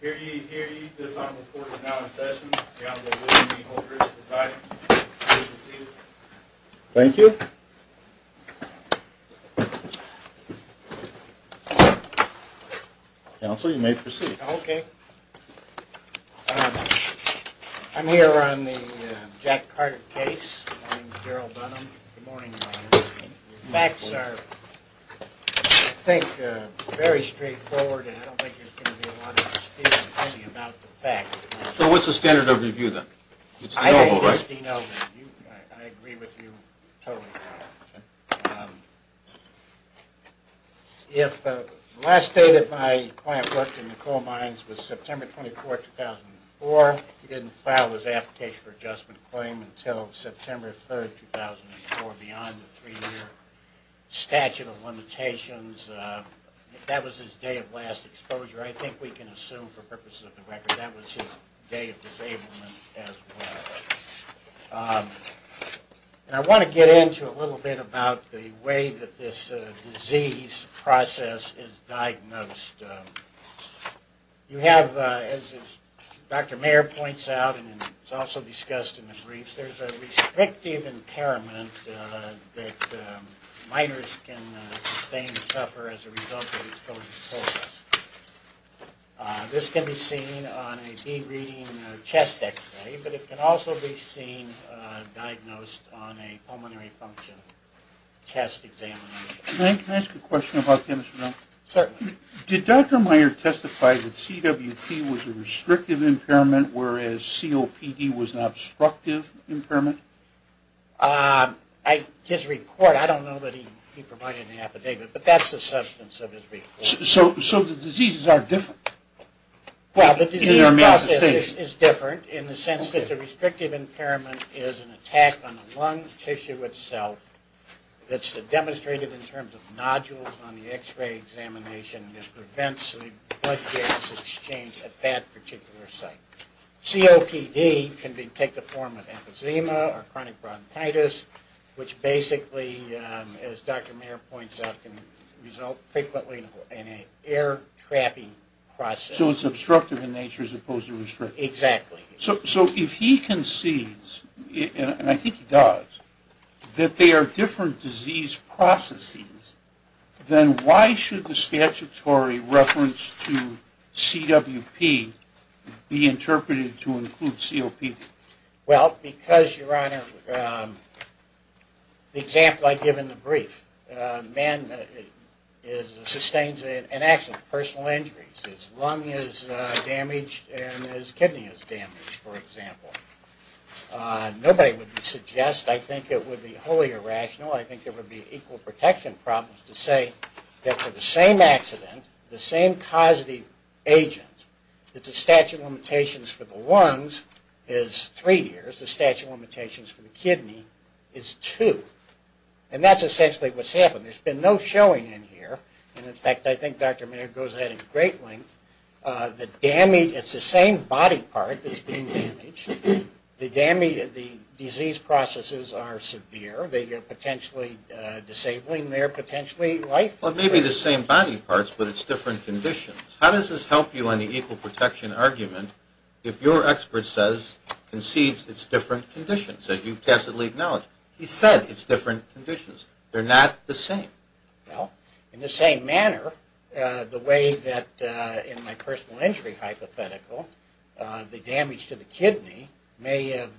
Here ye, here ye, this honorable court is now in session. The honorable William B. Holdridge presiding. Please be seated. Thank you. Counsel, you may proceed. Okay. I'm here on the Jack Carter case. My name is Gerald Dunham. Good morning, Your Honor. The facts are, I think, very straightforward and I don't think there's going to be a lot of dispute about the facts. So what's the standard of review then? I agree with you totally. If the last day that my client worked in the coal mines was September 24, 2004, he didn't file his application for adjustment claim until September 3, 2004, beyond the three-year statute of limitations. That was his day of last exposure. I think we can assume for purposes of the record that was his day of disablement as well. And I want to get into a little bit about the way that this disease process is diagnosed. You have, as Dr. Mayer points out, and it's also discussed in the briefs, there's a restrictive impairment that miners can sustain and suffer as a result of exposure to coal dust. This can be seen on a bead reading chest x-ray, but it can also be seen diagnosed on a pulmonary function test exam. Can I ask a question about this? Certainly. Did Dr. Mayer testify that CWT was a restrictive impairment whereas COPD was an obstructive impairment? His report, I don't know that he provided an affidavit, but that's the substance of his report. So the diseases are different? Well, the disease process is different in the sense that the restrictive impairment is an attack on the lung tissue itself. It's demonstrated in terms of nodules on the x-ray examination that prevents the blood gas exchange at that particular site. COPD can take the form of emphysema or chronic bronchitis, which basically, as Dr. Mayer points out, can result frequently in an air-trapping process. So it's obstructive in nature as opposed to restrictive. Exactly. So if he concedes, and I think he does, that they are different disease processes, then why should the statutory reference to CWP be interpreted to include COPD? Well, because, Your Honor, the example I give in the brief, man sustains an accident, personal injuries. His lung is damaged and his kidney is damaged, for example. Nobody would suggest, I think it would be wholly irrational, I think there would be equal protection problems to say that for the same accident, the same causative agent, that the statute of limitations for the lungs is three years, the statute of limitations for the kidney is two. And that's essentially what's happened. There's been no showing in here. And in fact, I think Dr. Mayer goes ahead at great length. The damage, it's the same body part that's being damaged. The disease processes are severe. They are potentially disabling their potentially life. Well, it may be the same body parts, but it's different conditions. How does this help you on the equal protection argument if your expert says, concedes it's different conditions, as you've tacitly acknowledged? He said it's different conditions. They're not the same. Well, in the same manner, the way that in my personal injury hypothetical, the damage to the kidney may have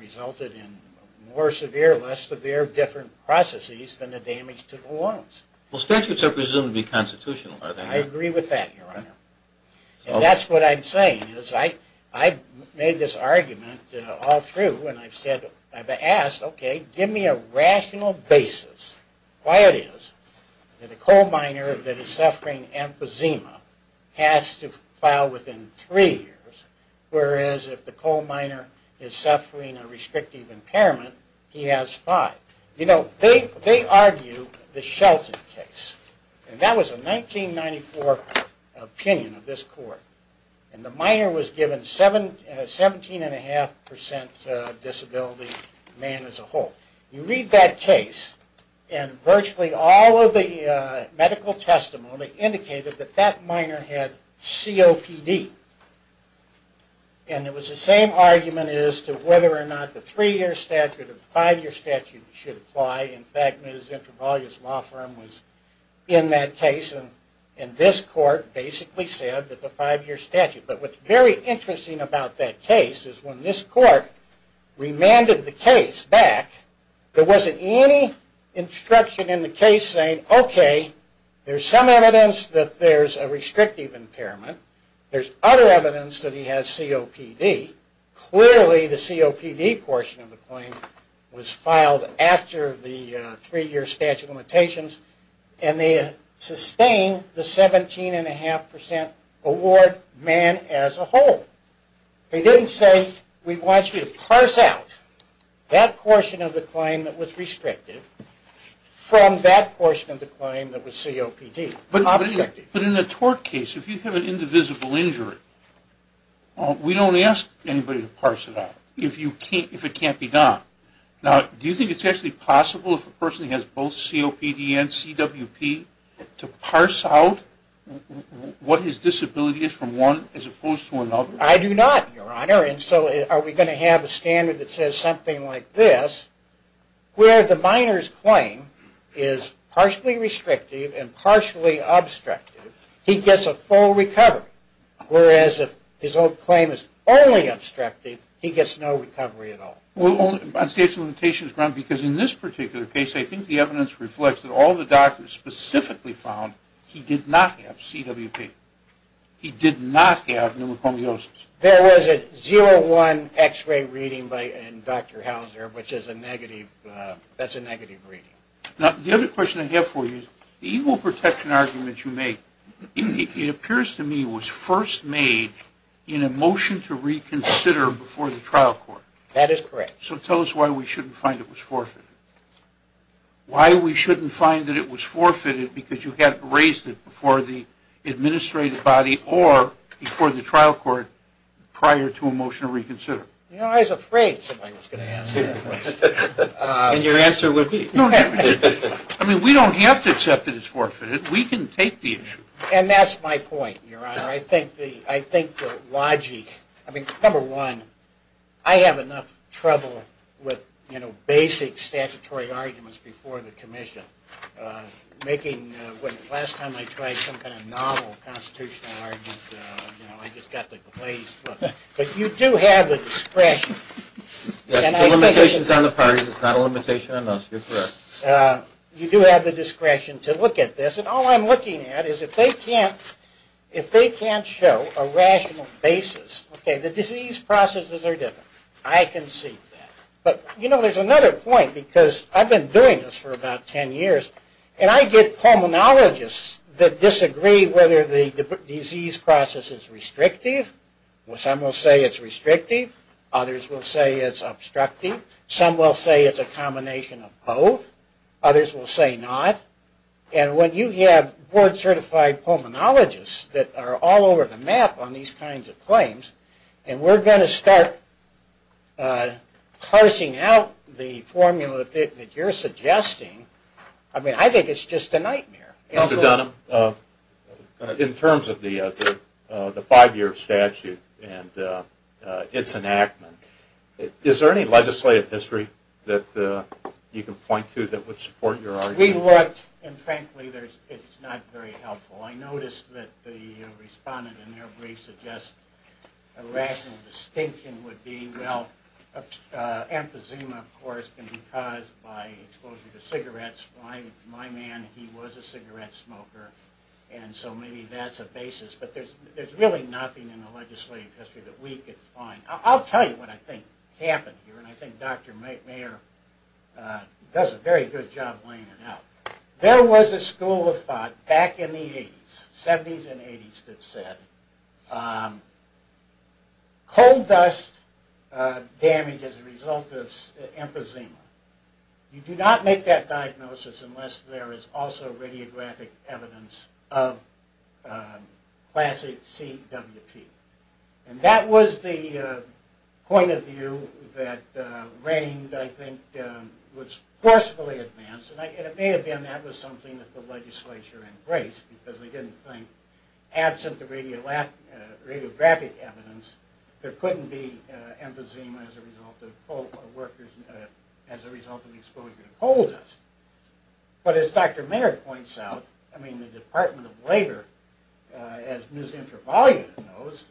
resulted in more severe, less severe different processes than the damage to the lungs. Well, statutes are presumed to be constitutional. I agree with that, Your Honor. And that's what I'm saying is I've made this argument all through, and I've said, I've asked, okay, give me a rational basis. Why it is that a coal miner that is suffering emphysema has to file within three years, whereas if the coal miner is suffering a restrictive impairment, he has five. You know, they argue the Shelton case. And that was a 1994 opinion of this court. And the miner was given 17.5% disability, man as a whole. You read that case, and virtually all of the medical testimony indicated that that miner had COPD. And it was the same argument as to whether or not the three-year statute or the five-year statute should apply. In fact, Ms. Intravaglia's law firm was in that case. And this court basically said that the five-year statute. But what's very interesting about that case is when this court remanded the case back, there wasn't any instruction in the case saying, okay, there's some evidence that there's a restrictive impairment. There's other evidence that he has COPD. Clearly, the COPD portion of the claim was filed after the three-year statute limitations. And they sustained the 17.5% award, man as a whole. They didn't say, we want you to parse out that portion of the claim that was restrictive from that portion of the claim that was COPD. But in a tort case, if you have an indivisible injury, we don't ask anybody to parse it out if it can't be done. Now, do you think it's actually possible if a person has both COPD and CWP to parse out what his disability is from one as opposed to another? And so are we going to have a standard that says something like this, where the minor's claim is partially restrictive and partially obstructive, he gets a full recovery. Whereas if his whole claim is only obstructive, he gets no recovery at all. Well, on state's limitations grounds, because in this particular case, I think the evidence reflects that all the doctors specifically found he did not have CWP. He did not have pneumoconiosis. There was a 0-1 x-ray reading in Dr. Hauser, which is a negative, that's a negative reading. Now, the other question I have for you, the equal protection argument you make, it appears to me was first made in a motion to reconsider before the trial court. That is correct. So tell us why we shouldn't find it was forfeited. Why we shouldn't find that it was forfeited because you had erased it before the administrative body or before the trial court prior to a motion to reconsider? You know, I was afraid somebody was going to ask that question. And your answer would be? I mean, we don't have to accept that it's forfeited. We can take the issue. And that's my point, Your Honor. Your Honor, I think the logic, I mean, number one, I have enough trouble with, you know, basic statutory arguments before the commission. Last time I tried some kind of novel constitutional argument, you know, I just got the glaze. But you do have the discretion. The limitation is on the parties, it's not a limitation on us, you're correct. You do have the discretion to look at this. And all I'm looking at is if they can't show a rational basis, okay, the disease processes are different. I can see that. But, you know, there's another point because I've been doing this for about ten years. And I get pulmonologists that disagree whether the disease process is restrictive. Some will say it's restrictive. Others will say it's obstructive. Some will say it's a combination of both. Others will say not. And when you have board-certified pulmonologists that are all over the map on these kinds of claims, and we're going to start parsing out the formula that you're suggesting, I mean, I think it's just a nightmare. Mr. Dunham, in terms of the five-year statute and its enactment, is there any legislative history that you can point to that would support your argument? We looked, and frankly, it's not very helpful. I noticed that the respondent in their brief suggests a rational distinction would be, well, emphysema, of course, can be caused by exposure to cigarettes. My man, he was a cigarette smoker. And so maybe that's a basis. But there's really nothing in the legislative history that we could find. I'll tell you what I think happened here, and I think Dr. Mayer does a very good job laying it out. There was a school of thought back in the 70s and 80s that said coal dust damage is a result of emphysema. You do not make that diagnosis unless there is also radiographic evidence of classic CWP. And that was the point of view that reigned, I think, was forcefully advanced, and it may have been that was something that the legislature embraced because they didn't think, absent the radiographic evidence, there couldn't be emphysema as a result of workers, as a result of exposure to coal dust. But as Dr. Mayer points out, I mean, the Department of Labor, as Ms. Intervalia knows,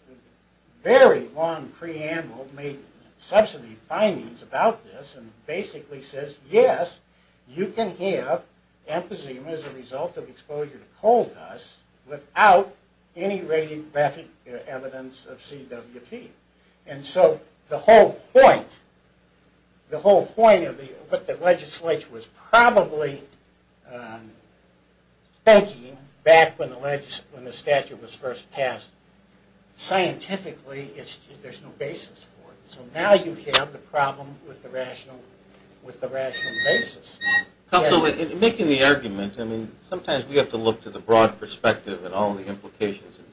very long preamble made substantive findings about this and basically says, yes, you can have emphysema as a result of exposure to coal dust without any radiographic evidence of CWP. And so the whole point of what the legislature was probably thinking back when the statute was first passed, scientifically, there's no basis for it. So now you have the problem with the rational basis. Also, in making the argument, I mean, sometimes we have to look to the broad perspective and all the implications and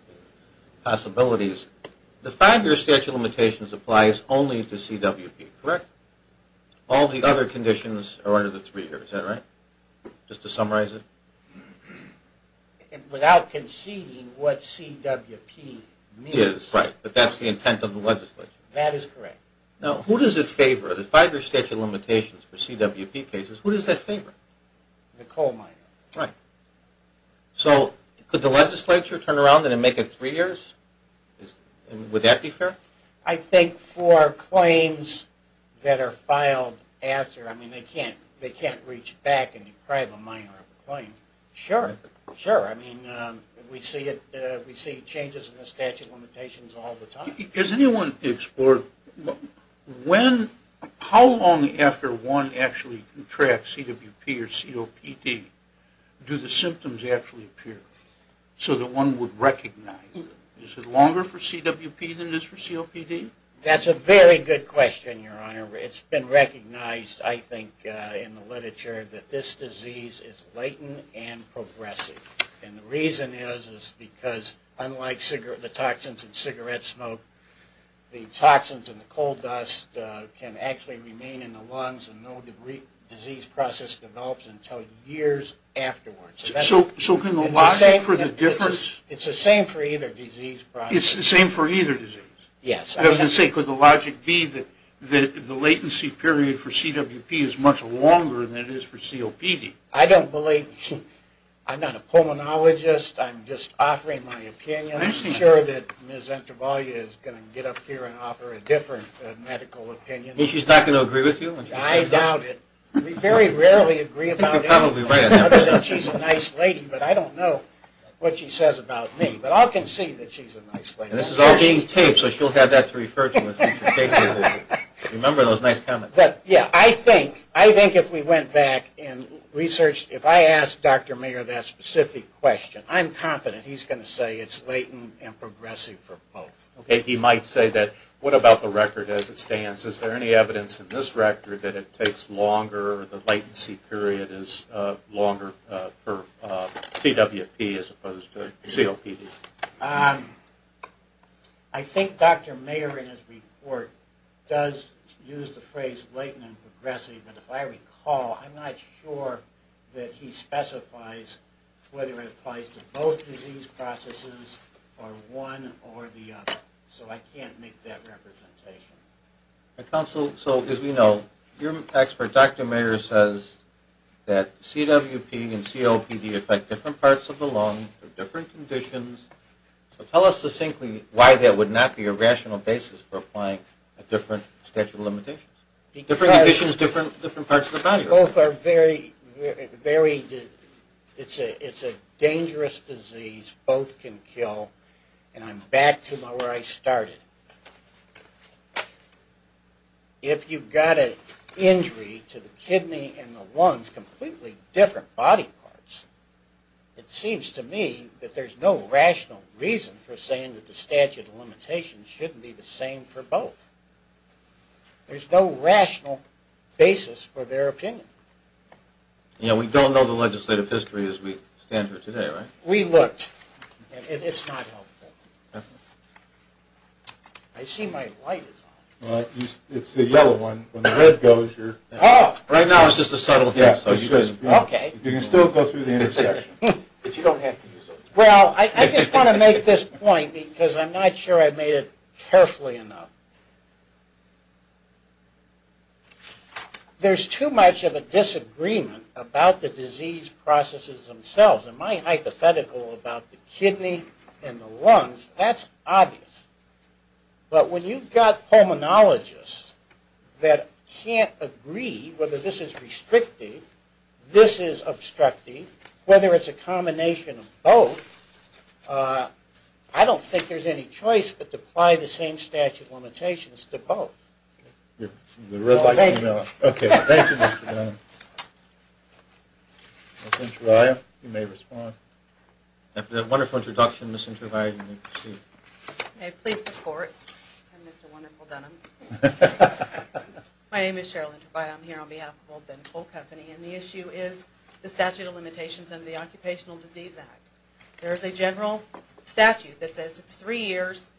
possibilities. The five-year statute of limitations applies only to CWP, correct? All the other conditions are under the three years, is that right? Just to summarize it? Without conceding what CWP means. Right, but that's the intent of the legislature. That is correct. Now, who does it favor? The five-year statute of limitations for CWP cases, who does that favor? The coal miners. Right. So could the legislature turn around and make it three years? Would that be fair? I think for claims that are filed after, I mean, they can't reach back and deprive a miner of a claim. Sure, sure. I mean, we see changes in the statute of limitations all the time. Has anyone explored how long after one actually contracts CWP or COPD do the symptoms actually appear so that one would recognize it? Is it longer for CWP than it is for COPD? That's a very good question, Your Honor. It's been recognized, I think, in the literature that this disease is blatant and progressive. And the reason is, is because unlike the toxins in cigarette smoke, the toxins in the coal dust can actually remain in the lungs and no disease process develops until years afterwards. So can the logic for the difference? It's the same for either disease process. It's the same for either disease? Yes. Does it say, could the logic be that the latency period for CWP is much longer than it is for COPD? I don't believe. I'm not a pulmonologist. I'm just offering my opinion. I'm sure that Ms. Entrevallia is going to get up here and offer a different medical opinion. You mean she's not going to agree with you? I doubt it. We very rarely agree about anything other than she's a nice lady, but I don't know what she says about me. But I'll concede that she's a nice lady. And this is all being taped, so she'll have that to refer to in future cases. Remember those nice comments. I think if we went back and researched, if I asked Dr. Mayer that specific question, I'm confident he's going to say it's latent and progressive for both. Okay, he might say that. What about the record as it stands? Is there any evidence in this record that it takes longer, the latency period is longer for CWP as opposed to COPD? I think Dr. Mayer in his report does use the phrase latent and progressive. But if I recall, I'm not sure that he specifies whether it applies to both disease processes or one or the other. So I can't make that representation. Counsel, so as we know, your expert, Dr. Mayer, says that CWP and COPD affect different parts of the lung for different conditions. So tell us succinctly why that would not be a rational basis for applying a different statute of limitations. Different conditions, different parts of the body. Both are very, very, it's a dangerous disease. Both can kill. And I'm back to where I started. If you've got an injury to the kidney and the lungs, completely different body parts, it seems to me that there's no rational reason for saying that the statute of limitations shouldn't be the same for both. There's no rational basis for their opinion. Yeah, we don't know the legislative history as we stand here today, right? We looked. And it's not helpful. I see my light is on. It's the yellow one. When the red goes, you're... Oh! Right now it's just a subtle hint. Okay. You can still go through the intersection. But you don't have to use it. Well, I just want to make this point because I'm not sure I made it carefully enough. There's too much of a disagreement about the disease processes themselves. And my hypothetical about the kidney and the lungs, that's obvious. But when you've got pulmonologists that can't agree whether this is restrictive, this is obstructive, whether it's a combination of both, I don't think there's any choice but to apply the same statute of limitations to both. Okay. Thank you, Mr. Dunham. Ms. Intervallia, you may respond. After that wonderful introduction, Ms. Intervallia, you may proceed. May I please support? I'm Mr. Wonderful Dunham. My name is Cheryl Intervallia. I'm here on behalf of Old Bend Coal Company. And the issue is the statute of limitations under the Occupational Disease Act. There's a general statute that says it's three years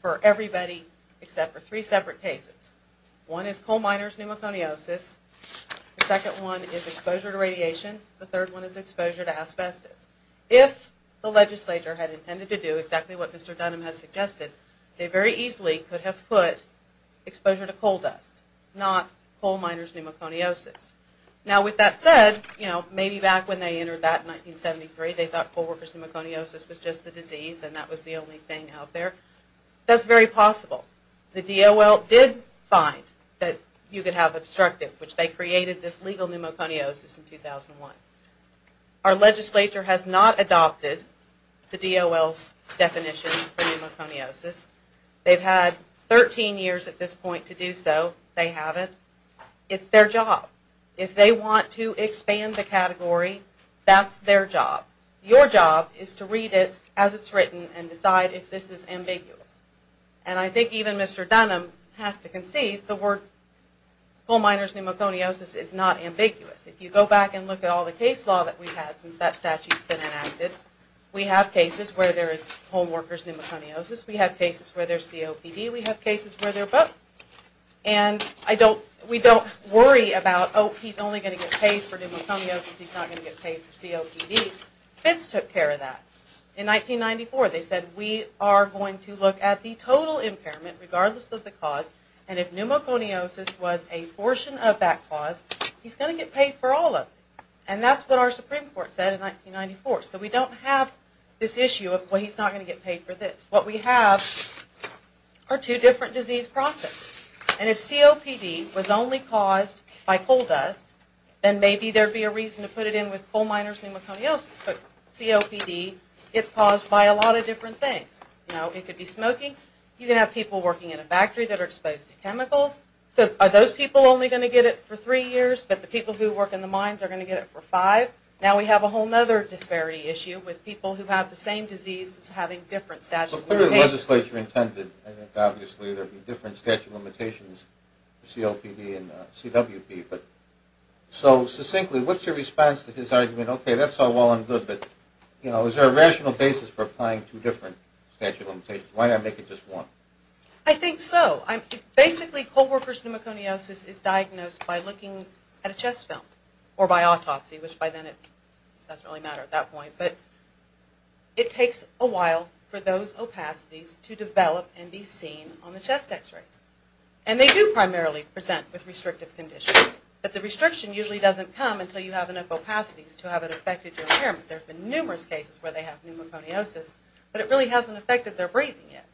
for everybody except for three separate cases. One is coal miners pneumoconiosis. The second one is exposure to radiation. The third one is exposure to asbestos. If the legislature had intended to do exactly what Mr. Dunham has suggested, they very easily could have put exposure to coal dust, not coal miners' pneumoconiosis. Now, with that said, you know, maybe back when they entered that in 1973, they thought coal workers' pneumoconiosis was just the disease and that was the only thing out there. That's very possible. The DOL did find that you could have obstructive, which they created this legal pneumoconiosis in 2001. Our legislature has not adopted the DOL's definition for pneumoconiosis. They've had 13 years at this point to do so. They haven't. It's their job. If they want to expand the category, that's their job. Your job is to read it as it's written and decide if this is ambiguous. And I think even Mr. Dunham has to concede the word coal miners' pneumoconiosis is not ambiguous. If you go back and look at all the case law that we've had since that statute's been enacted, we have cases where there is coal workers' pneumoconiosis. We have cases where there's COPD. We have cases where they're both. And we don't worry about, oh, he's only going to get paid for pneumoconiosis. He's not going to get paid for COPD. FITS took care of that. In 1994, they said, we are going to look at the total impairment regardless of the cause, and if pneumoconiosis was a portion of that cause, he's going to get paid for all of it. And that's what our Supreme Court said in 1994. So we don't have this issue of, well, he's not going to get paid for this. What we have are two different disease processes. And if COPD was only caused by coal dust, then maybe there would be a reason to put it in with coal miners' pneumoconiosis. But COPD gets caused by a lot of different things. You know, it could be smoking. You can have people working in a factory that are exposed to chemicals. So are those people only going to get it for three years, but the people who work in the mines are going to get it for five? Now we have a whole other disparity issue with people who have the same disease that's having different statute of limitations. But clearly the legislature intended, I think, obviously, there would be different statute of limitations for COPD and CWP. But so succinctly, what's your response to his argument? Okay, that's all well and good, but, you know, is there a rational basis for applying two different statute of limitations? Why not make it just one? I think so. Basically, coal workers' pneumoconiosis is diagnosed by looking at a chest film or by autopsy, which by then it doesn't really matter at that point. But it takes a while for those opacities to develop and be seen on the chest x-rays. And they do primarily present with restrictive conditions. But the restriction usually doesn't come until you have enough opacities to have it affect your impairment. There have been numerous cases where they have pneumoconiosis, but it really hasn't affected their breathing yet.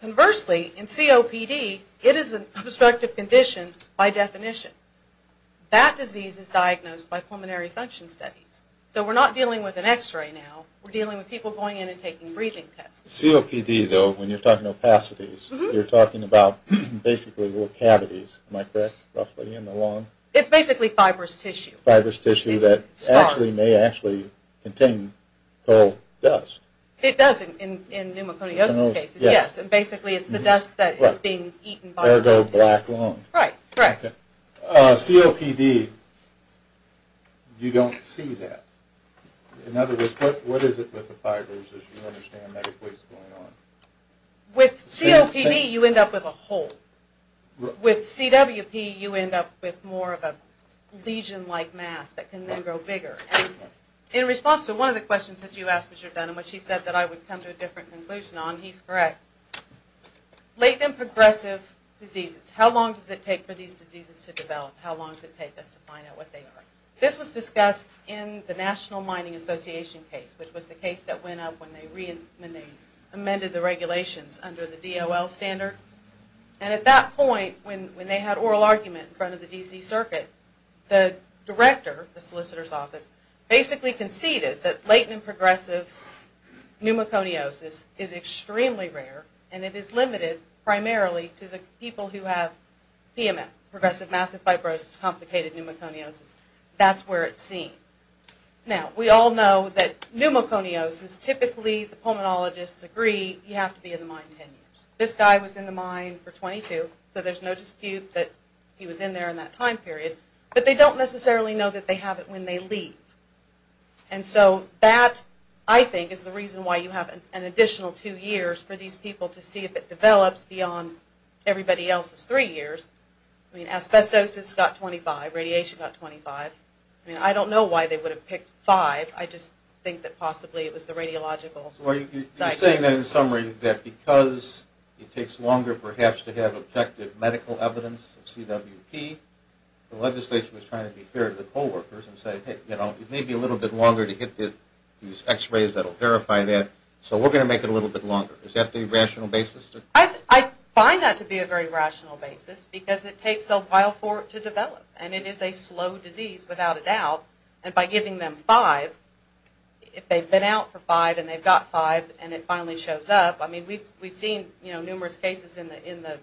Conversely, in COPD, it is an obstructive condition by definition. That disease is diagnosed by pulmonary function studies. So we're not dealing with an x-ray now. We're dealing with people going in and taking breathing tests. COPD, though, when you're talking opacities, you're talking about basically little cavities. Am I correct, roughly, in the lung? It's basically fibrous tissue. Fibrous tissue that actually may actually contain coal dust. It does in pneumoconiosis cases, yes. And basically it's the dust that is being eaten by the lung. Ergo black lung. Right, right. COPD, you don't see that. In other words, what is it with the fibers, as you understand medically, that's going on? With COPD, you end up with a hole. With CWP, you end up with more of a lesion-like mass that can then grow bigger. In response to one of the questions that you asked Mr. Dunham, which he said that I would come to a different conclusion on, he's correct. Latent and progressive diseases. How long does it take for these diseases to develop? How long does it take us to find out what they are? This was discussed in the National Mining Association case, which was the case that went up when they amended the regulations under the DOL standard. And at that point, when they had oral argument in front of the D.C. Circuit, the director, the solicitor's office, basically conceded that latent and progressive pneumoconiosis is extremely rare and it is limited primarily to the people who have PMF, progressive massive fibrosis, complicated pneumoconiosis. That's where it's seen. Now, we all know that pneumoconiosis, typically the pulmonologists agree, you have to be in the mine 10 years. This guy was in the mine for 22, so there's no dispute that he was in there in that time period. But they don't necessarily know that they have it when they leave. And so that, I think, is the reason why you have an additional two years for these people to see if it develops beyond everybody else's three years. I mean, asbestosis got 25. Radiation got 25. I mean, I don't know why they would have picked five. I just think that possibly it was the radiological diagnosis. You're saying then, in summary, that because it takes longer perhaps to have objective medical evidence of CWP, the legislature was trying to be fair to the co-workers and say, hey, you know, it may be a little bit longer to get these x-rays that will verify that, so we're going to make it a little bit longer. Is that the rational basis? I find that to be a very rational basis because it takes a while for it to develop. And it is a slow disease, without a doubt. And by giving them five, if they've been out for five and they've got five and it finally shows up, I mean, we've seen numerous cases in the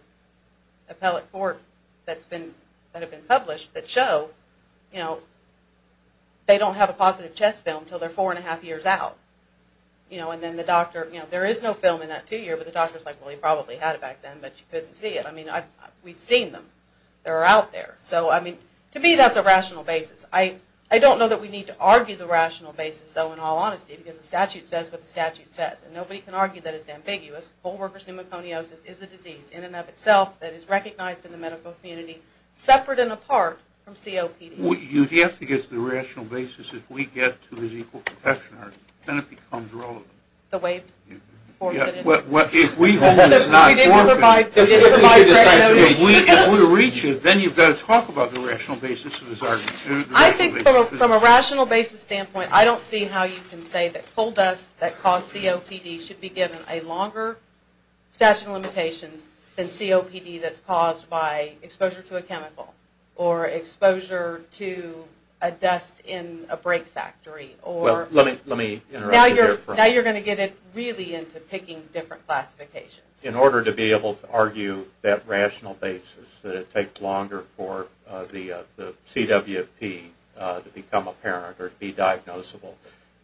appellate court that have been published that show, you know, they don't have a positive chest film until they're four and a half years out. You know, and then the doctor, you know, there is no film in that two year, but the doctor's like, well, he probably had it back then, but you couldn't see it. I mean, we've seen them. They're out there. So, I mean, to me that's a rational basis. I don't know that we need to argue the rational basis, though, in all honesty, because the statute says what the statute says. And nobody can argue that it's ambiguous. Coalworker's pneumoconiosis is a disease in and of itself that is recognized in the medical community separate and apart from COPD. You have to get to the rational basis. If we get to the equal protection argument, then it becomes relevant. The waived forfeited. If we hold it's not forfeited, if we reach it, then you've got to talk about the rational basis of this argument. I think from a rational basis standpoint, I don't see how you can say that coal dust that caused COPD should be given a longer statute of limitations than COPD that's caused by exposure to a chemical or exposure to a dust in a brake factory. Well, let me interrupt you there for a moment. Now you're going to get really into picking different classifications. In order to be able to argue that rational basis, that it takes longer for the CWP to become apparent or be diagnosable,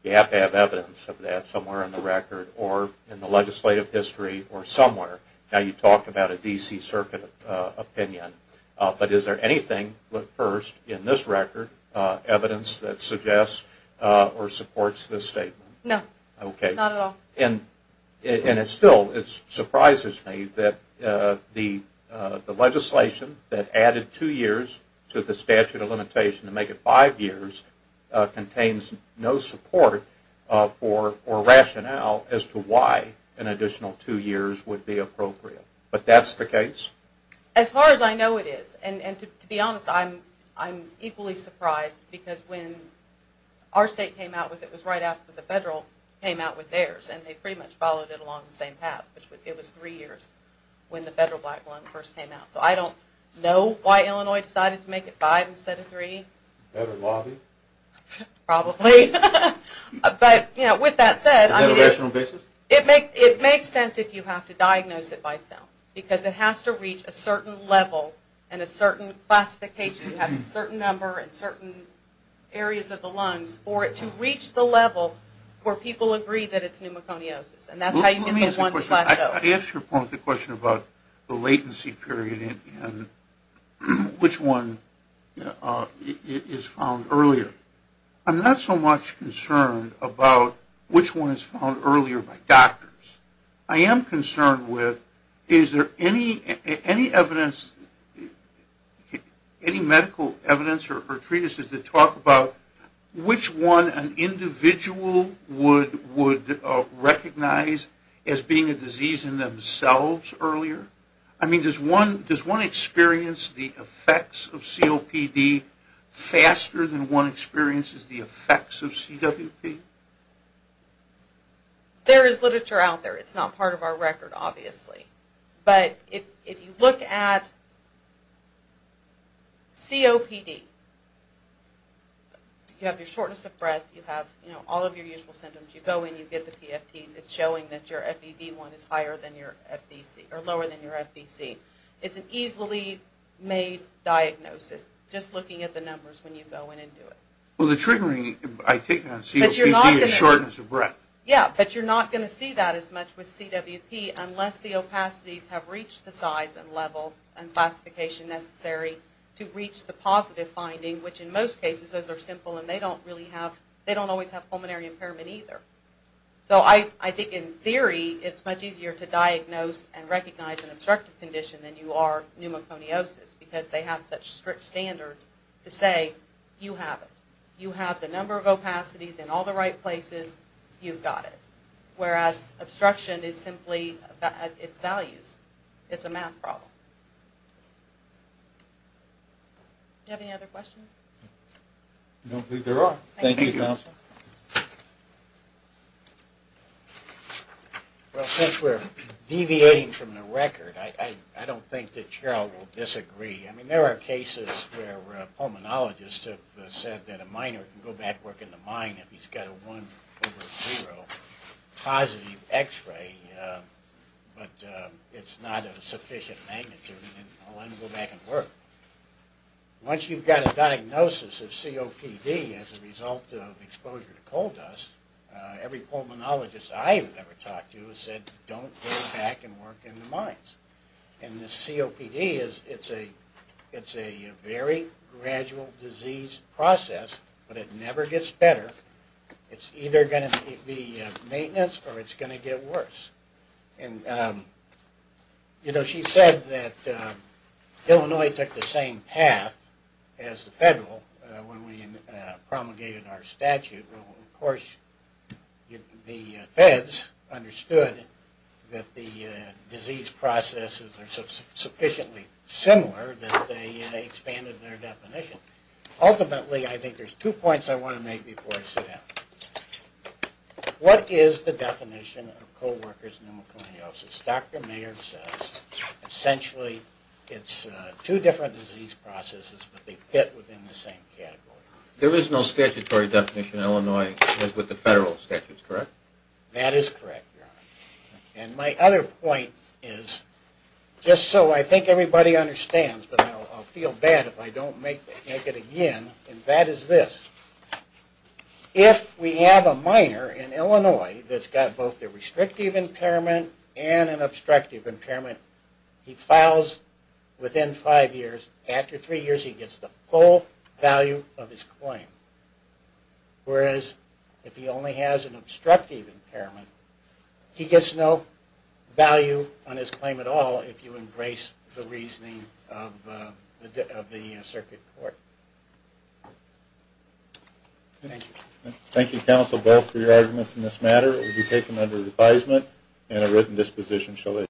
you have to have evidence of that somewhere in the record or in the legislative history or somewhere. Now you talked about a D.C. Circuit opinion, but is there anything, first, in this record, evidence that suggests or supports this statement? No. Okay. Not at all. And it still surprises me that the legislation that added two years to the statute of limitations to make it five years contains no support or rationale as to why an additional two years would be appropriate. But that's the case? As far as I know it is. And to be honest, I'm equally surprised, because when our state came out with it, it was right after the federal came out with theirs, and they pretty much followed it along the same path. It was three years when the federal black loan first came out. So I don't know why Illinois decided to make it five instead of three. Better lobby? Probably. But, you know, with that said, it makes sense if you have to diagnose it by film, because it has to reach a certain level and a certain classification. You have a certain number and certain areas of the loans for it to reach the level where people agree that it's pneumoconiosis. And that's how you get the one slash O. I asked your point, the question about the latency period and which one is found earlier. I'm not so much concerned about which one is found earlier by doctors. I am concerned with is there any evidence, any medical evidence or treatises that talk about which one an individual would recognize as being a disease in themselves earlier? I mean, does one experience the effects of COPD faster than one experiences the effects of CWP? There is literature out there. It's not part of our record, obviously. But if you look at COPD, you have your shortness of breath, you have all of your usual symptoms, you go in, you get the PFTs, it's showing that your FED1 is higher than your FDC, or lower than your FDC. It's an easily made diagnosis, just looking at the numbers when you go in and do it. Well, the triggering I take on COPD is shortness of breath. Yeah, but you're not going to see that as much with CWP unless the opacities have reached the size and level and classification necessary to reach the positive finding, which in most cases those are simple and they don't always have pulmonary impairment either. So I think in theory it's much easier to diagnose and recognize an obstructive condition than you are pneumoconiosis because they have such strict standards to say you have it. You have the number of opacities in all the right places, you've got it. Whereas obstruction is simply its values. It's a math problem. Do you have any other questions? I don't think there are. Thank you, Counsel. Well, since we're deviating from the record, I don't think that Cheryl will disagree. I mean, there are cases where pulmonologists have said that a miner can go back and work in the mine if he's got a 1 over 0 positive x-ray, but it's not a sufficient magnitude, and I'll let him go back and work. Once you've got a diagnosis of COPD as a result of exposure to coal dust, every pulmonologist I've ever talked to has said don't go back and work in the mines. And the COPD, it's a very gradual disease process, but it never gets better. It's either going to be maintenance or it's going to get worse. You know, she said that Illinois took the same path as the federal when we promulgated our statute. Of course, the feds understood that the disease processes are sufficiently similar that they expanded their definition. Ultimately, I think there's two points I want to make before I sit down. What is the definition of co-worker's pneumocloniosis? Dr. Mayer says, essentially, it's two different disease processes, but they fit within the same category. There is no statutory definition in Illinois with the federal statutes, correct? That is correct, Your Honor. And my other point is, just so I think everybody understands, but I'll feel bad if I don't make it again, and that is this. If we have a miner in Illinois that's got both a restrictive impairment and an obstructive impairment, he files within five years. After three years, he gets the full value of his claim. Whereas, if he only has an obstructive impairment, he gets no value on his claim at all if you embrace the reasoning of the circuit court. Thank you. Thank you, counsel, both for your arguments in this matter. It will be taken under advisement, and a written disposition shall issue.